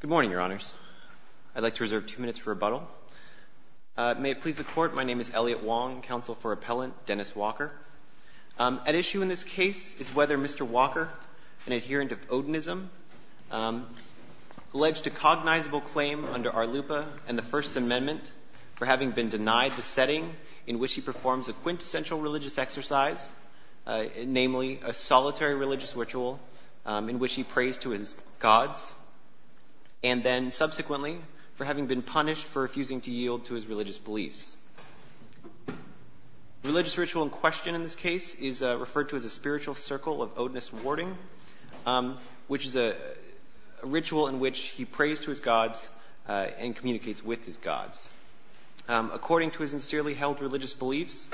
Good morning, Your Honors. I'd like to reserve two minutes for rebuttal. May it please the Court, my name is Elliot Wong, counsel for Appellant Dennis Walker. At issue in this case is whether Mr. Walker, an adherent of Odinism, alleged a cognizable claim under Arlupa and the First Amendment for having been denied the setting in which he performs a quintessential religious exercise, namely a solitary religious ritual in which he prays to his gods, and then subsequently for having been punished for refusing to yield to his religious beliefs. Religious ritual in question in this case is referred to as a spiritual circle of Odinist warding, which is a ritual in which he prays to his gods and communicates with his gods. According to his sincerely held religious beliefs,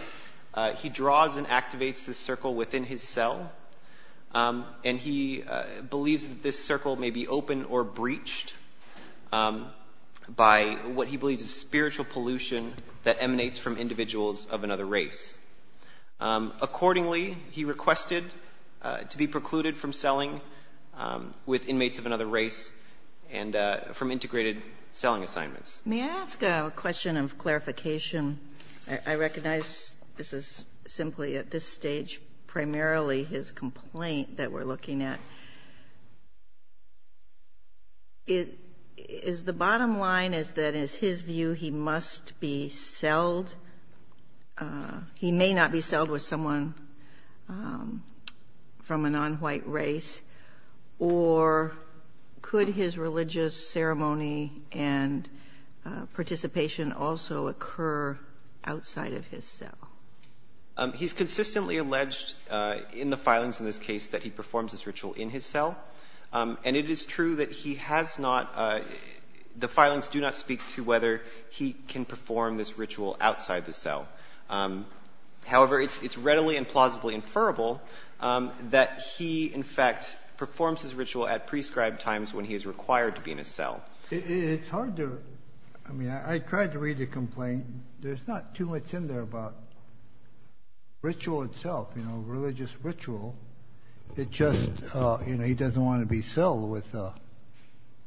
he draws and activates this circle within his cell, and he believes that this circle may be opened or breached by what he believes is spiritual pollution that emanates from individuals of another race. Accordingly, he requested to be precluded from selling with inmates of another race and from integrated selling assignments. May I ask a question of clarification? I recognize this is simply at this stage primarily his complaint that we're looking at. Is the bottom line is that it's his view he must be sold? He may not be sold with someone from a nonwhite race? Or could it be that his religious ceremony and participation also occur outside of his cell? He's consistently alleged in the filings in this case that he performs this ritual in his cell, and it is true that the filings do not speak to whether he can perform this ritual outside the cell. However, it's readily and plausibly inferable that he, in fact, performs his ritual at prescribed times when he is required to be in a cell. It's hard to, I mean, I tried to read the complaint. There's not too much in there about ritual itself, you know, religious ritual. It just, you know, he doesn't want to be sold with a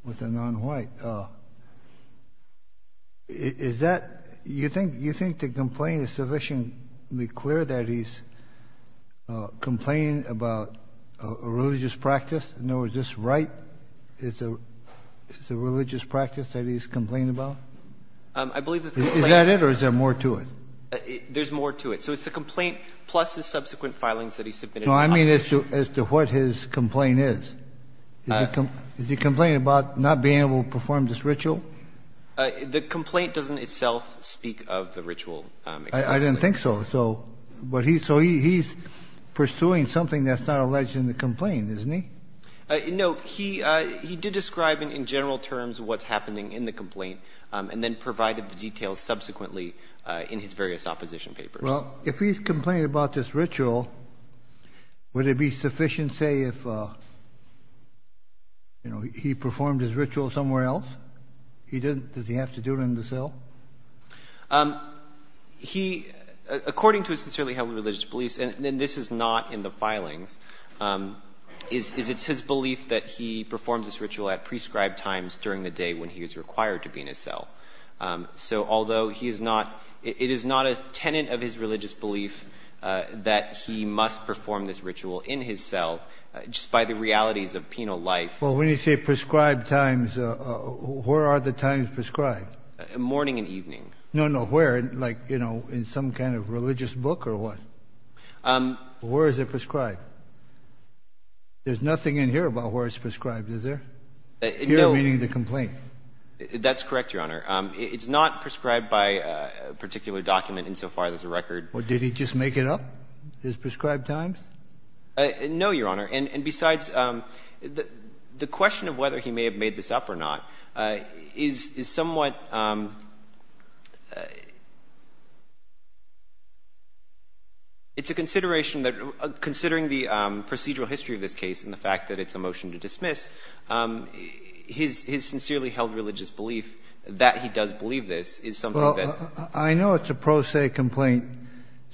nonwhite. Is that, you think the complaint is sufficiently clear that he's complaining about a religious practice? In other words, is this right? Is it a religious practice that he's complaining about? Is that it, or is there more to it? There's more to it. So it's the complaint plus his subsequent filings that he submitted in the opposition. No, I mean as to what his complaint is. Is he complaining about not being able to perform this ritual? The complaint doesn't itself speak of the ritual explicitly. I didn't think so. So he's pursuing something that's not alleged in the complaint, isn't he? No, he did describe in general terms what's happening in the complaint and then provided the details subsequently in his various opposition papers. Well, if he's complaining about this ritual, would it be sufficient to say if he performed his ritual somewhere else? Does he have to do it in the cell? He, according to his sincerely held religious beliefs, and this is not in the filings, is it's his belief that he performs this ritual at prescribed times during the day when he is required to be in a cell. So although he is not, it is not a tenant of his religious belief that he must perform this ritual in his cell just by the realities of penal life. Well, when you say prescribed times, where are the times prescribed? Morning and evening. No, no, where? Like, you know, in some kind of religious book or what? Where is it prescribed? There's nothing in here about where it's prescribed, is there? Here meaning the complaint? That's correct, Your Honor. It's not prescribed by a particular document insofar as a record. Well, did he just make it up, his prescribed times? No, Your Honor. And besides, the question of whether he may have made this up or not is somewhat — it's a consideration that, considering the procedural history of this case and the fact that it's a motion to dismiss, his sincerely held religious belief that he does believe this is something that — Well, I know it's a pro se complaint,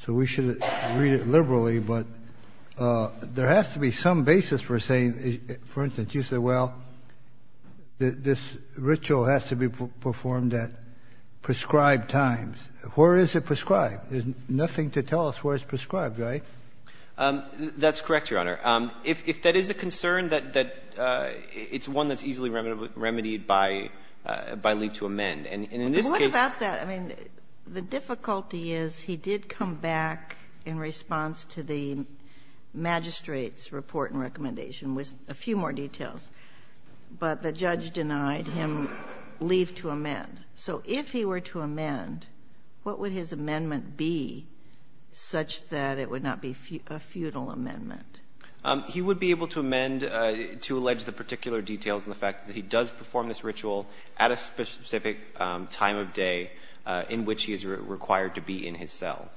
so we should read it liberally. But there has to be some basis for saying — for instance, you said, well, this ritual has to be performed at prescribed times. Where is it prescribed? There's nothing to tell us where it's prescribed, right? That's correct, Your Honor. If that is a concern, it's one that's easily remedied by leave to amend. And in this case — But what about that? I mean, the difficulty is he did come back in response to the magistrate's report and recommendation with a few more details, but the judge denied him leave to amend. So if he were to amend, what would his amendment be such that it would not be a futile amendment? He would be able to amend to allege the particular details and the fact that he does perform this ritual at a specific time of day in which he is required to be in his cell.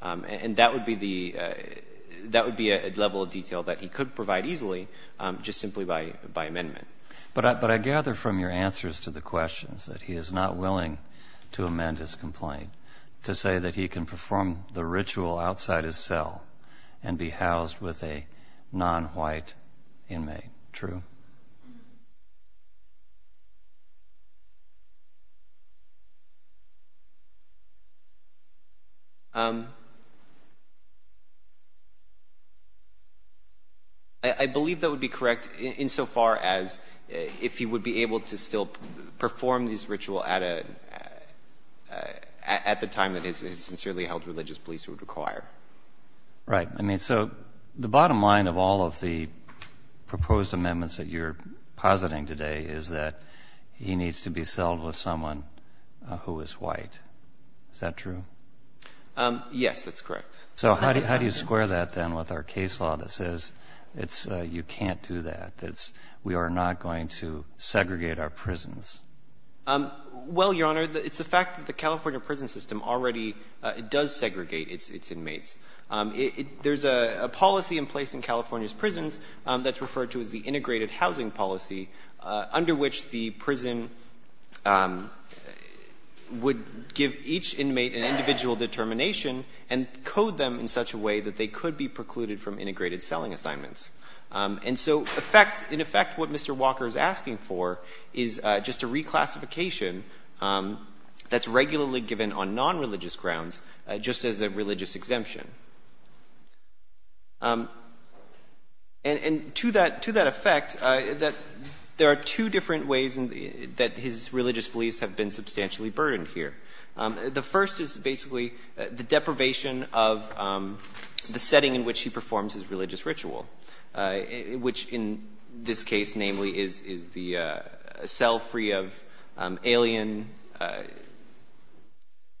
And that would be the — that would be a level of detail that he could provide easily just simply by amendment. But I gather from your answers to the questions that he is not willing to amend his complaint to say that he can perform the ritual outside his cell and be housed with a non-white inmate, true? I believe that would be correct insofar as if he would be able to still perform this ritual at a — at the time that his sincerely held religious beliefs would require. Right. I mean, so the bottom line of all of the proposed amendments that you're positing today is that he needs to be celled with someone who is white. Is that true? Yes, that's correct. So how do you square that, then, with our case law that says it's — you can't do that, that we are not going to segregate our prisons? Well, Your Honor, it's the fact that the California prison system already does segregate its inmates. There's a policy in place in California's prisons that's referred to as the integrated housing policy under which the prison would give each inmate an individual determination and code them in such a way that they could be precluded from integrated selling assignments. And so, in effect, what Mr. Walker is asking for is just a reclassification that's regularly given on non-religious grounds just as a religious exemption. And to that — to that effect, there are two different ways that his religious beliefs have been substantially burdened here. The first is basically the deprivation of the setting in which he performs his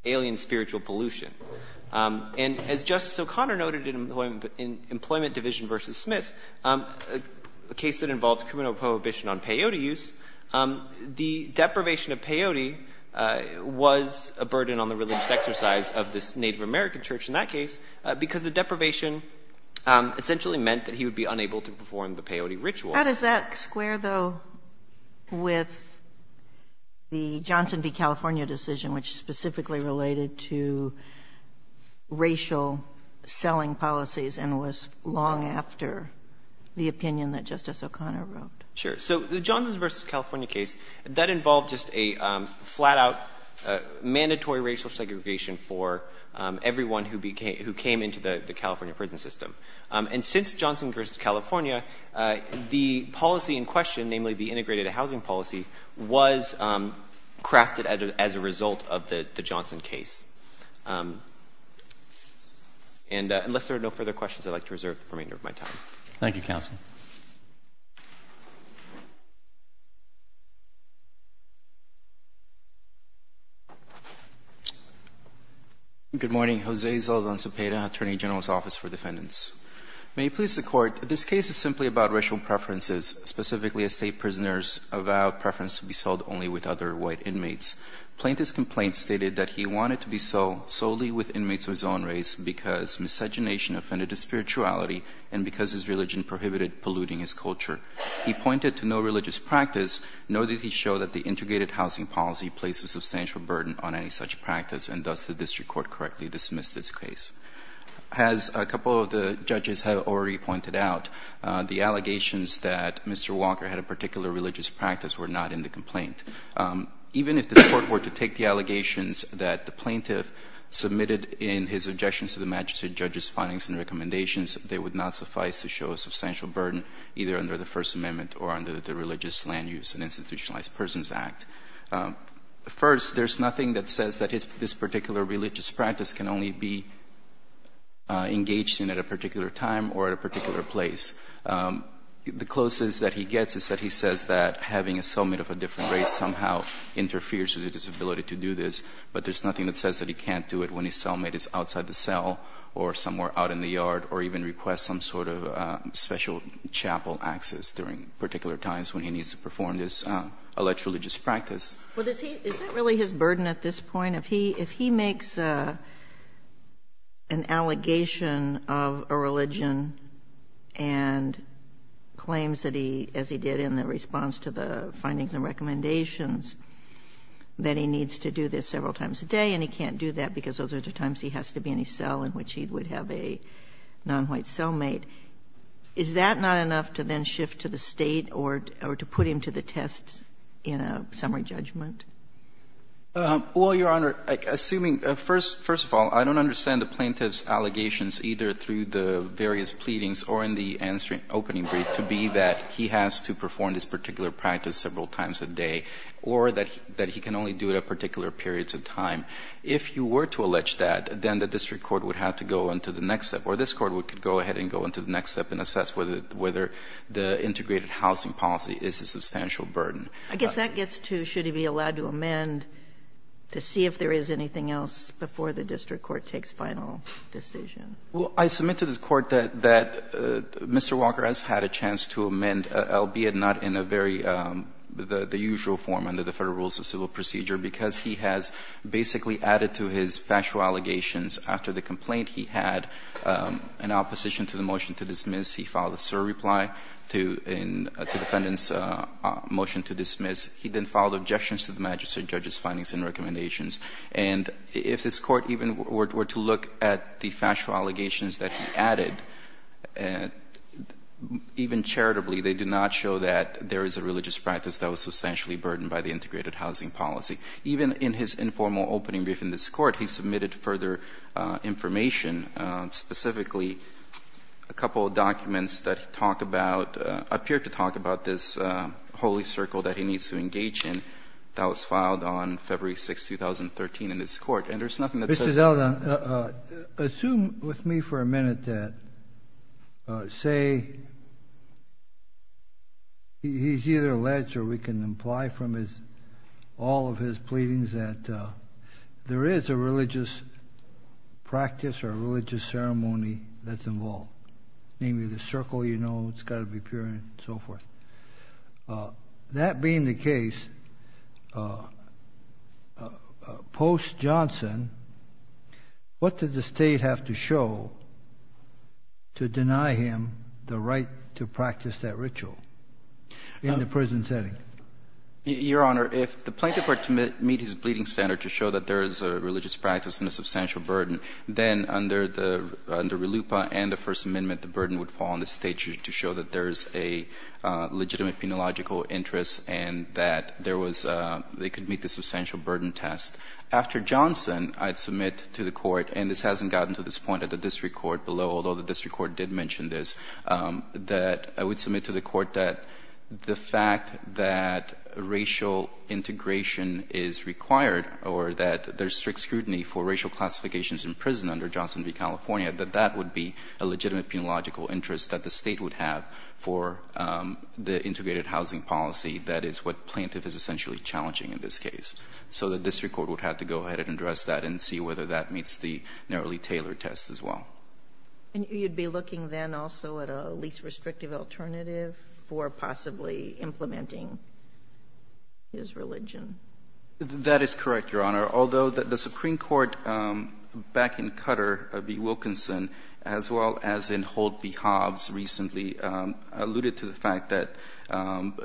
alien spiritual pollution. And as Justice O'Connor noted in Employment Division v. Smith, a case that involved criminal prohibition on peyote use, the deprivation of peyote was a burden on the religious exercise of this Native American church in that case because the deprivation essentially meant that he would be unable to perform the peyote ritual. How does that square, though, with the Johnson v. California decision, which specifically related to racial selling policies and was long after the opinion that Justice O'Connor wrote? Sure. So the Johnson v. California case, that involved just a flat-out mandatory racial segregation for everyone who became — who came into the California prison system. And since Johnson v. California, the policy in question, namely the integrated housing policy, was crafted as a result of the Johnson case. And unless there are no further questions, I'd like to reserve the remainder of my time. Thank you, counsel. Good morning. Jose Zaldan Zepeda, Attorney General's Office for Defendants. May it please the Court, this case is simply about racial preferences, specifically as state prisoners avowed preference to be sold only with other white inmates. Plaintiff's complaint stated that he wanted to be sold solely with inmates of his own race because miscegenation offended his spirituality and because his religion prohibited polluting his culture. He pointed to no religious practice, nor did he show that the integrated housing policy placed a substantial burden on any such practice. And does the district court correctly dismiss this case? As a couple of the judges have already pointed out, the allegations that Mr. Walker had a particular religious practice were not in the complaint. Even if this Court were to take the allegations that the plaintiff submitted in his objections to the magistrate judge's findings and recommendations, they would not suffice to show a substantial burden either under the First Amendment or under the Religious Land Use and Institutionalized Persons Act. First, there's nothing that says that this particular religious practice can only be engaged in at a particular time or at a particular place. The closest that he gets is that he says that having a cellmate of a different race somehow interferes with his ability to do this, but there's nothing that says that he can't do it when his cellmate is outside the cell or somewhere out in the yard or even requests some sort of special chapel access during particular times when he needs to perform this alleged religious practice. Well, is that really his burden at this point? If he makes an allegation of a religion and claims that he, as he did in the response to the findings and recommendations, that he needs to do this several times a day and he can't do that because those are the times he has to be in a cell in which he would have a nonwhite cellmate, is that not enough to then shift to the State or to put him to the test in a summary judgment? Well, Your Honor, assuming, first of all, I don't understand the plaintiff's allegations either through the various pleadings or in the opening brief to be that he has to perform this particular practice several times a day or that he can only do it at particular periods of time. If you were to allege that, then the district court would have to go into the next step or this court could go ahead and go into the next step and assess whether the integrated housing policy is a substantial burden. I guess that gets to should he be allowed to amend to see if there is anything else before the district court takes final decision. Well, I submit to this Court that Mr. Walker has had a chance to amend, albeit not in a very, the usual form under the Federal Rules of Civil Procedure, because he has basically added to his factual allegations after the complaint he had an opposition to the motion to dismiss. He filed a surreply to the defendant's motion to dismiss. He then filed objections to the magistrate judge's findings and recommendations. And if this Court even were to look at the factual allegations that he added, even charitably, they do not show that there is a religious practice that was in his informal opening brief in this Court. He submitted further information, specifically a couple of documents that talk about, appear to talk about this holy circle that he needs to engage in that was filed on February 6, 2013 in this Court. And there is nothing that says that. Mr. Zeldin, assume with me for a minute that, say, he is either alleged or we can imply from his, all of his pleadings that there is a religious practice or a religious ceremony that's involved. Namely the circle, you know, it's got to be pure and so forth. That being the case, post-Johnson, what did the State have to show to deny him the right to practice that ritual in the prison setting? Your Honor, if the plaintiff were to meet his pleading standard to show that there is a religious practice and a substantial burden, then under the, under RLUIPA and the First Amendment, the burden would fall on the State to show that there is a legitimate penological interest and that there was, they could meet the substantial burden test. After Johnson, I'd submit to the Court, and this hasn't gotten to this point at the time the District Court did mention this, that I would submit to the Court that the fact that racial integration is required or that there's strict scrutiny for racial classifications in prison under Johnson v. California, that that would be a legitimate penological interest that the State would have for the integrated housing policy. That is what plaintiff is essentially challenging in this case. So the District Court would have to go ahead and address that and see whether that meets the narrowly tailored test as well. And you'd be looking then also at a least restrictive alternative for possibly implementing his religion? That is correct, Your Honor. Although the Supreme Court back in Qatar, B. Wilkinson, as well as in Holt v. Hobbs recently alluded to the fact that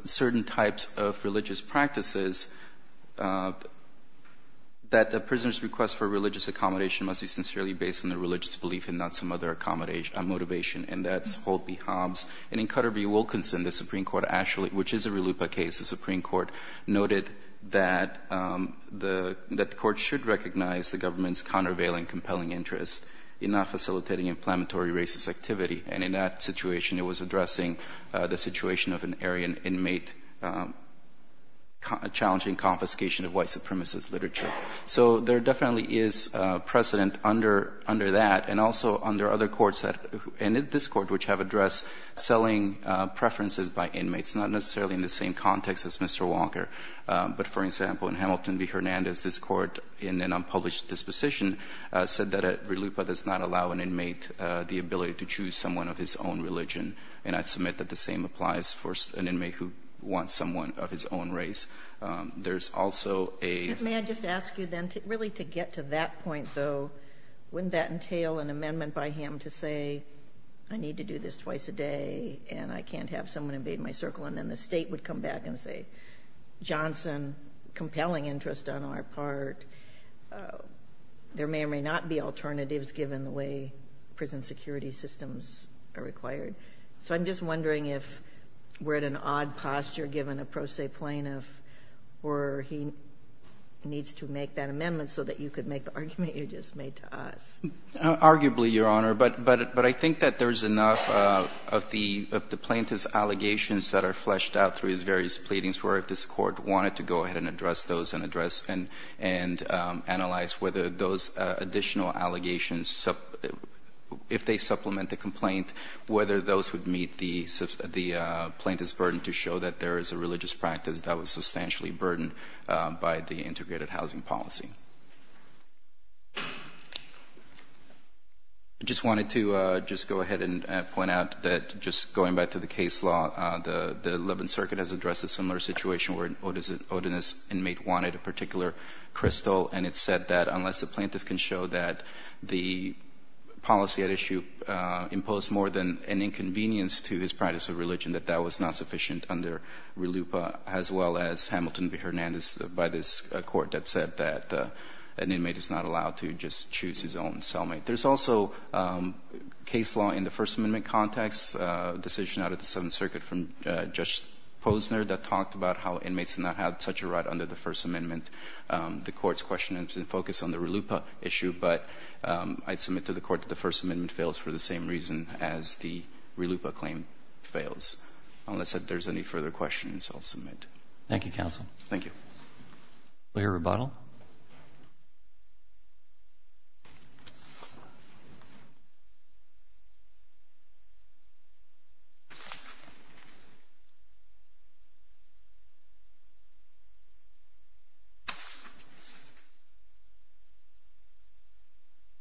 certain types of religious practices, that a prisoner's request for religious accommodation must be sincerely based on a religious belief and not some other motivation. And that's Holt v. Hobbs. And in Qatar v. Wilkinson, the Supreme Court actually, which is a RLUIPA case, the Supreme Court noted that the Court should recognize the government's countervailing compelling interest in not facilitating inflammatory racist activity. And in that situation, it was addressing the situation of an Aryan inmate challenging confiscation of white supremacist literature. So there definitely is precedent under that and also under other courts, and this Court, which have addressed selling preferences by inmates, not necessarily in the same context as Mr. Walker. But, for example, in Hamilton v. Hernandez, this Court, in an unpublished disposition, said that a RLUIPA does not allow an inmate the ability to choose someone of his own religion. And I submit that the same applies for an inmate who wants someone of his own race. There's also a... May I just ask you, then, really to get to that point, though. Wouldn't that entail an amendment by him to say, I need to do this twice a day and I can't have someone invade my circle? And then the State would come back and say, Johnson, compelling interest on our part. There may or may not be alternatives, given the way prison security systems are required. So I'm just wondering if we're at an odd posture, given a pro se plaintiff where he needs to make that amendment so that you could make the argument you just made to us. Arguably, Your Honor. But I think that there's enough of the plaintiff's allegations that are fleshed out through his various pleadings, where if this Court wanted to go ahead and address those and analyze whether those additional allegations, if they supplement the complaint, whether those would meet the plaintiff's burden to show that there is a religious practice that was substantially burdened by the integrated housing policy. I just wanted to just go ahead and point out that, just going back to the case law, the 11th Circuit has addressed a similar situation where an odinous inmate wanted a particular crystal and it said that unless the plaintiff can show that the policy at issue imposed more than an inconvenience to his practice of religion, that that was not sufficient under RLUIPA, as well as Hamilton v. Hernandez by this Court that said that an inmate is not allowed to just choose his own cellmate. There's also case law in the First Amendment context, a decision out of the 7th Circuit from Judge Posner that talked about how inmates do not have such a right under the First Amendment. The Court's question is in focus on the RLUIPA issue, but I'd submit to the Court that the First Amendment fails for the same reason as the RLUIPA claim fails. Unless there's any further questions, I'll submit. Thank you, counsel. Thank you. We'll hear rebuttal. Mr.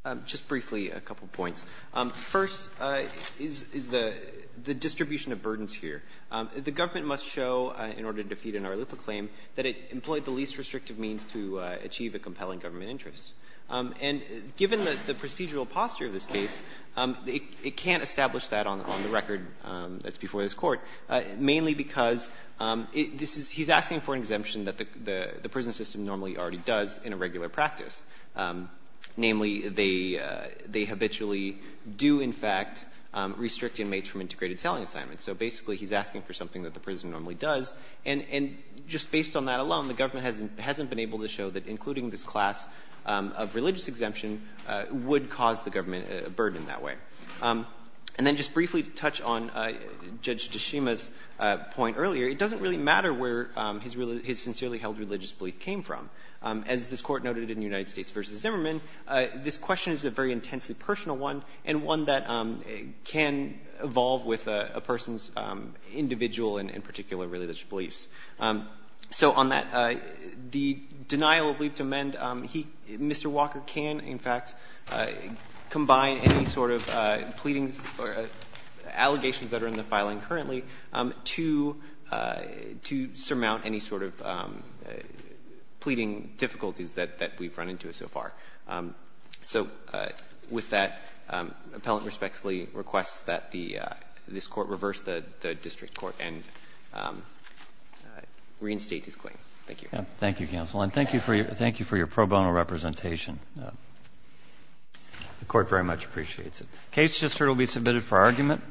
O'Connor. Just briefly, a couple points. First is the distribution of burdens here. The government must show, in order to defeat an RLUIPA claim, that it employed the least restrictive means to achieve a compelling government interest. And given the procedural posture of this case, it can't establish that on the record that's before this Court, mainly because this is he's asking for an exemption that the prison system normally already does in a regular practice. Namely, they habitually do, in fact, restrict inmates from integrated celling assignments. So basically, he's asking for something that the prison normally does. And just based on that alone, the government hasn't been able to show that including this class of religious exemption would cause the government a burden that way. And then just briefly to touch on Judge Deshima's point earlier, it doesn't really matter where his sincerely held religious belief came from. As this Court noted in United States v. Zimmerman, this question is a very intensely personal one, and one that can evolve with a person's individual and particular religious beliefs. So on that, the denial of leave to amend, Mr. Walker can, in fact, combine any sort of pleadings or allegations that are in the filing currently to surmount any sort of pleading difficulties that we've run into so far. So with that, the appellant respectfully requests that this Court reverse the district court and reinstate his claim. Thank you. Thank you, counsel. And thank you for your pro bono representation. The Court very much appreciates it. Case just heard will be submitted for argument.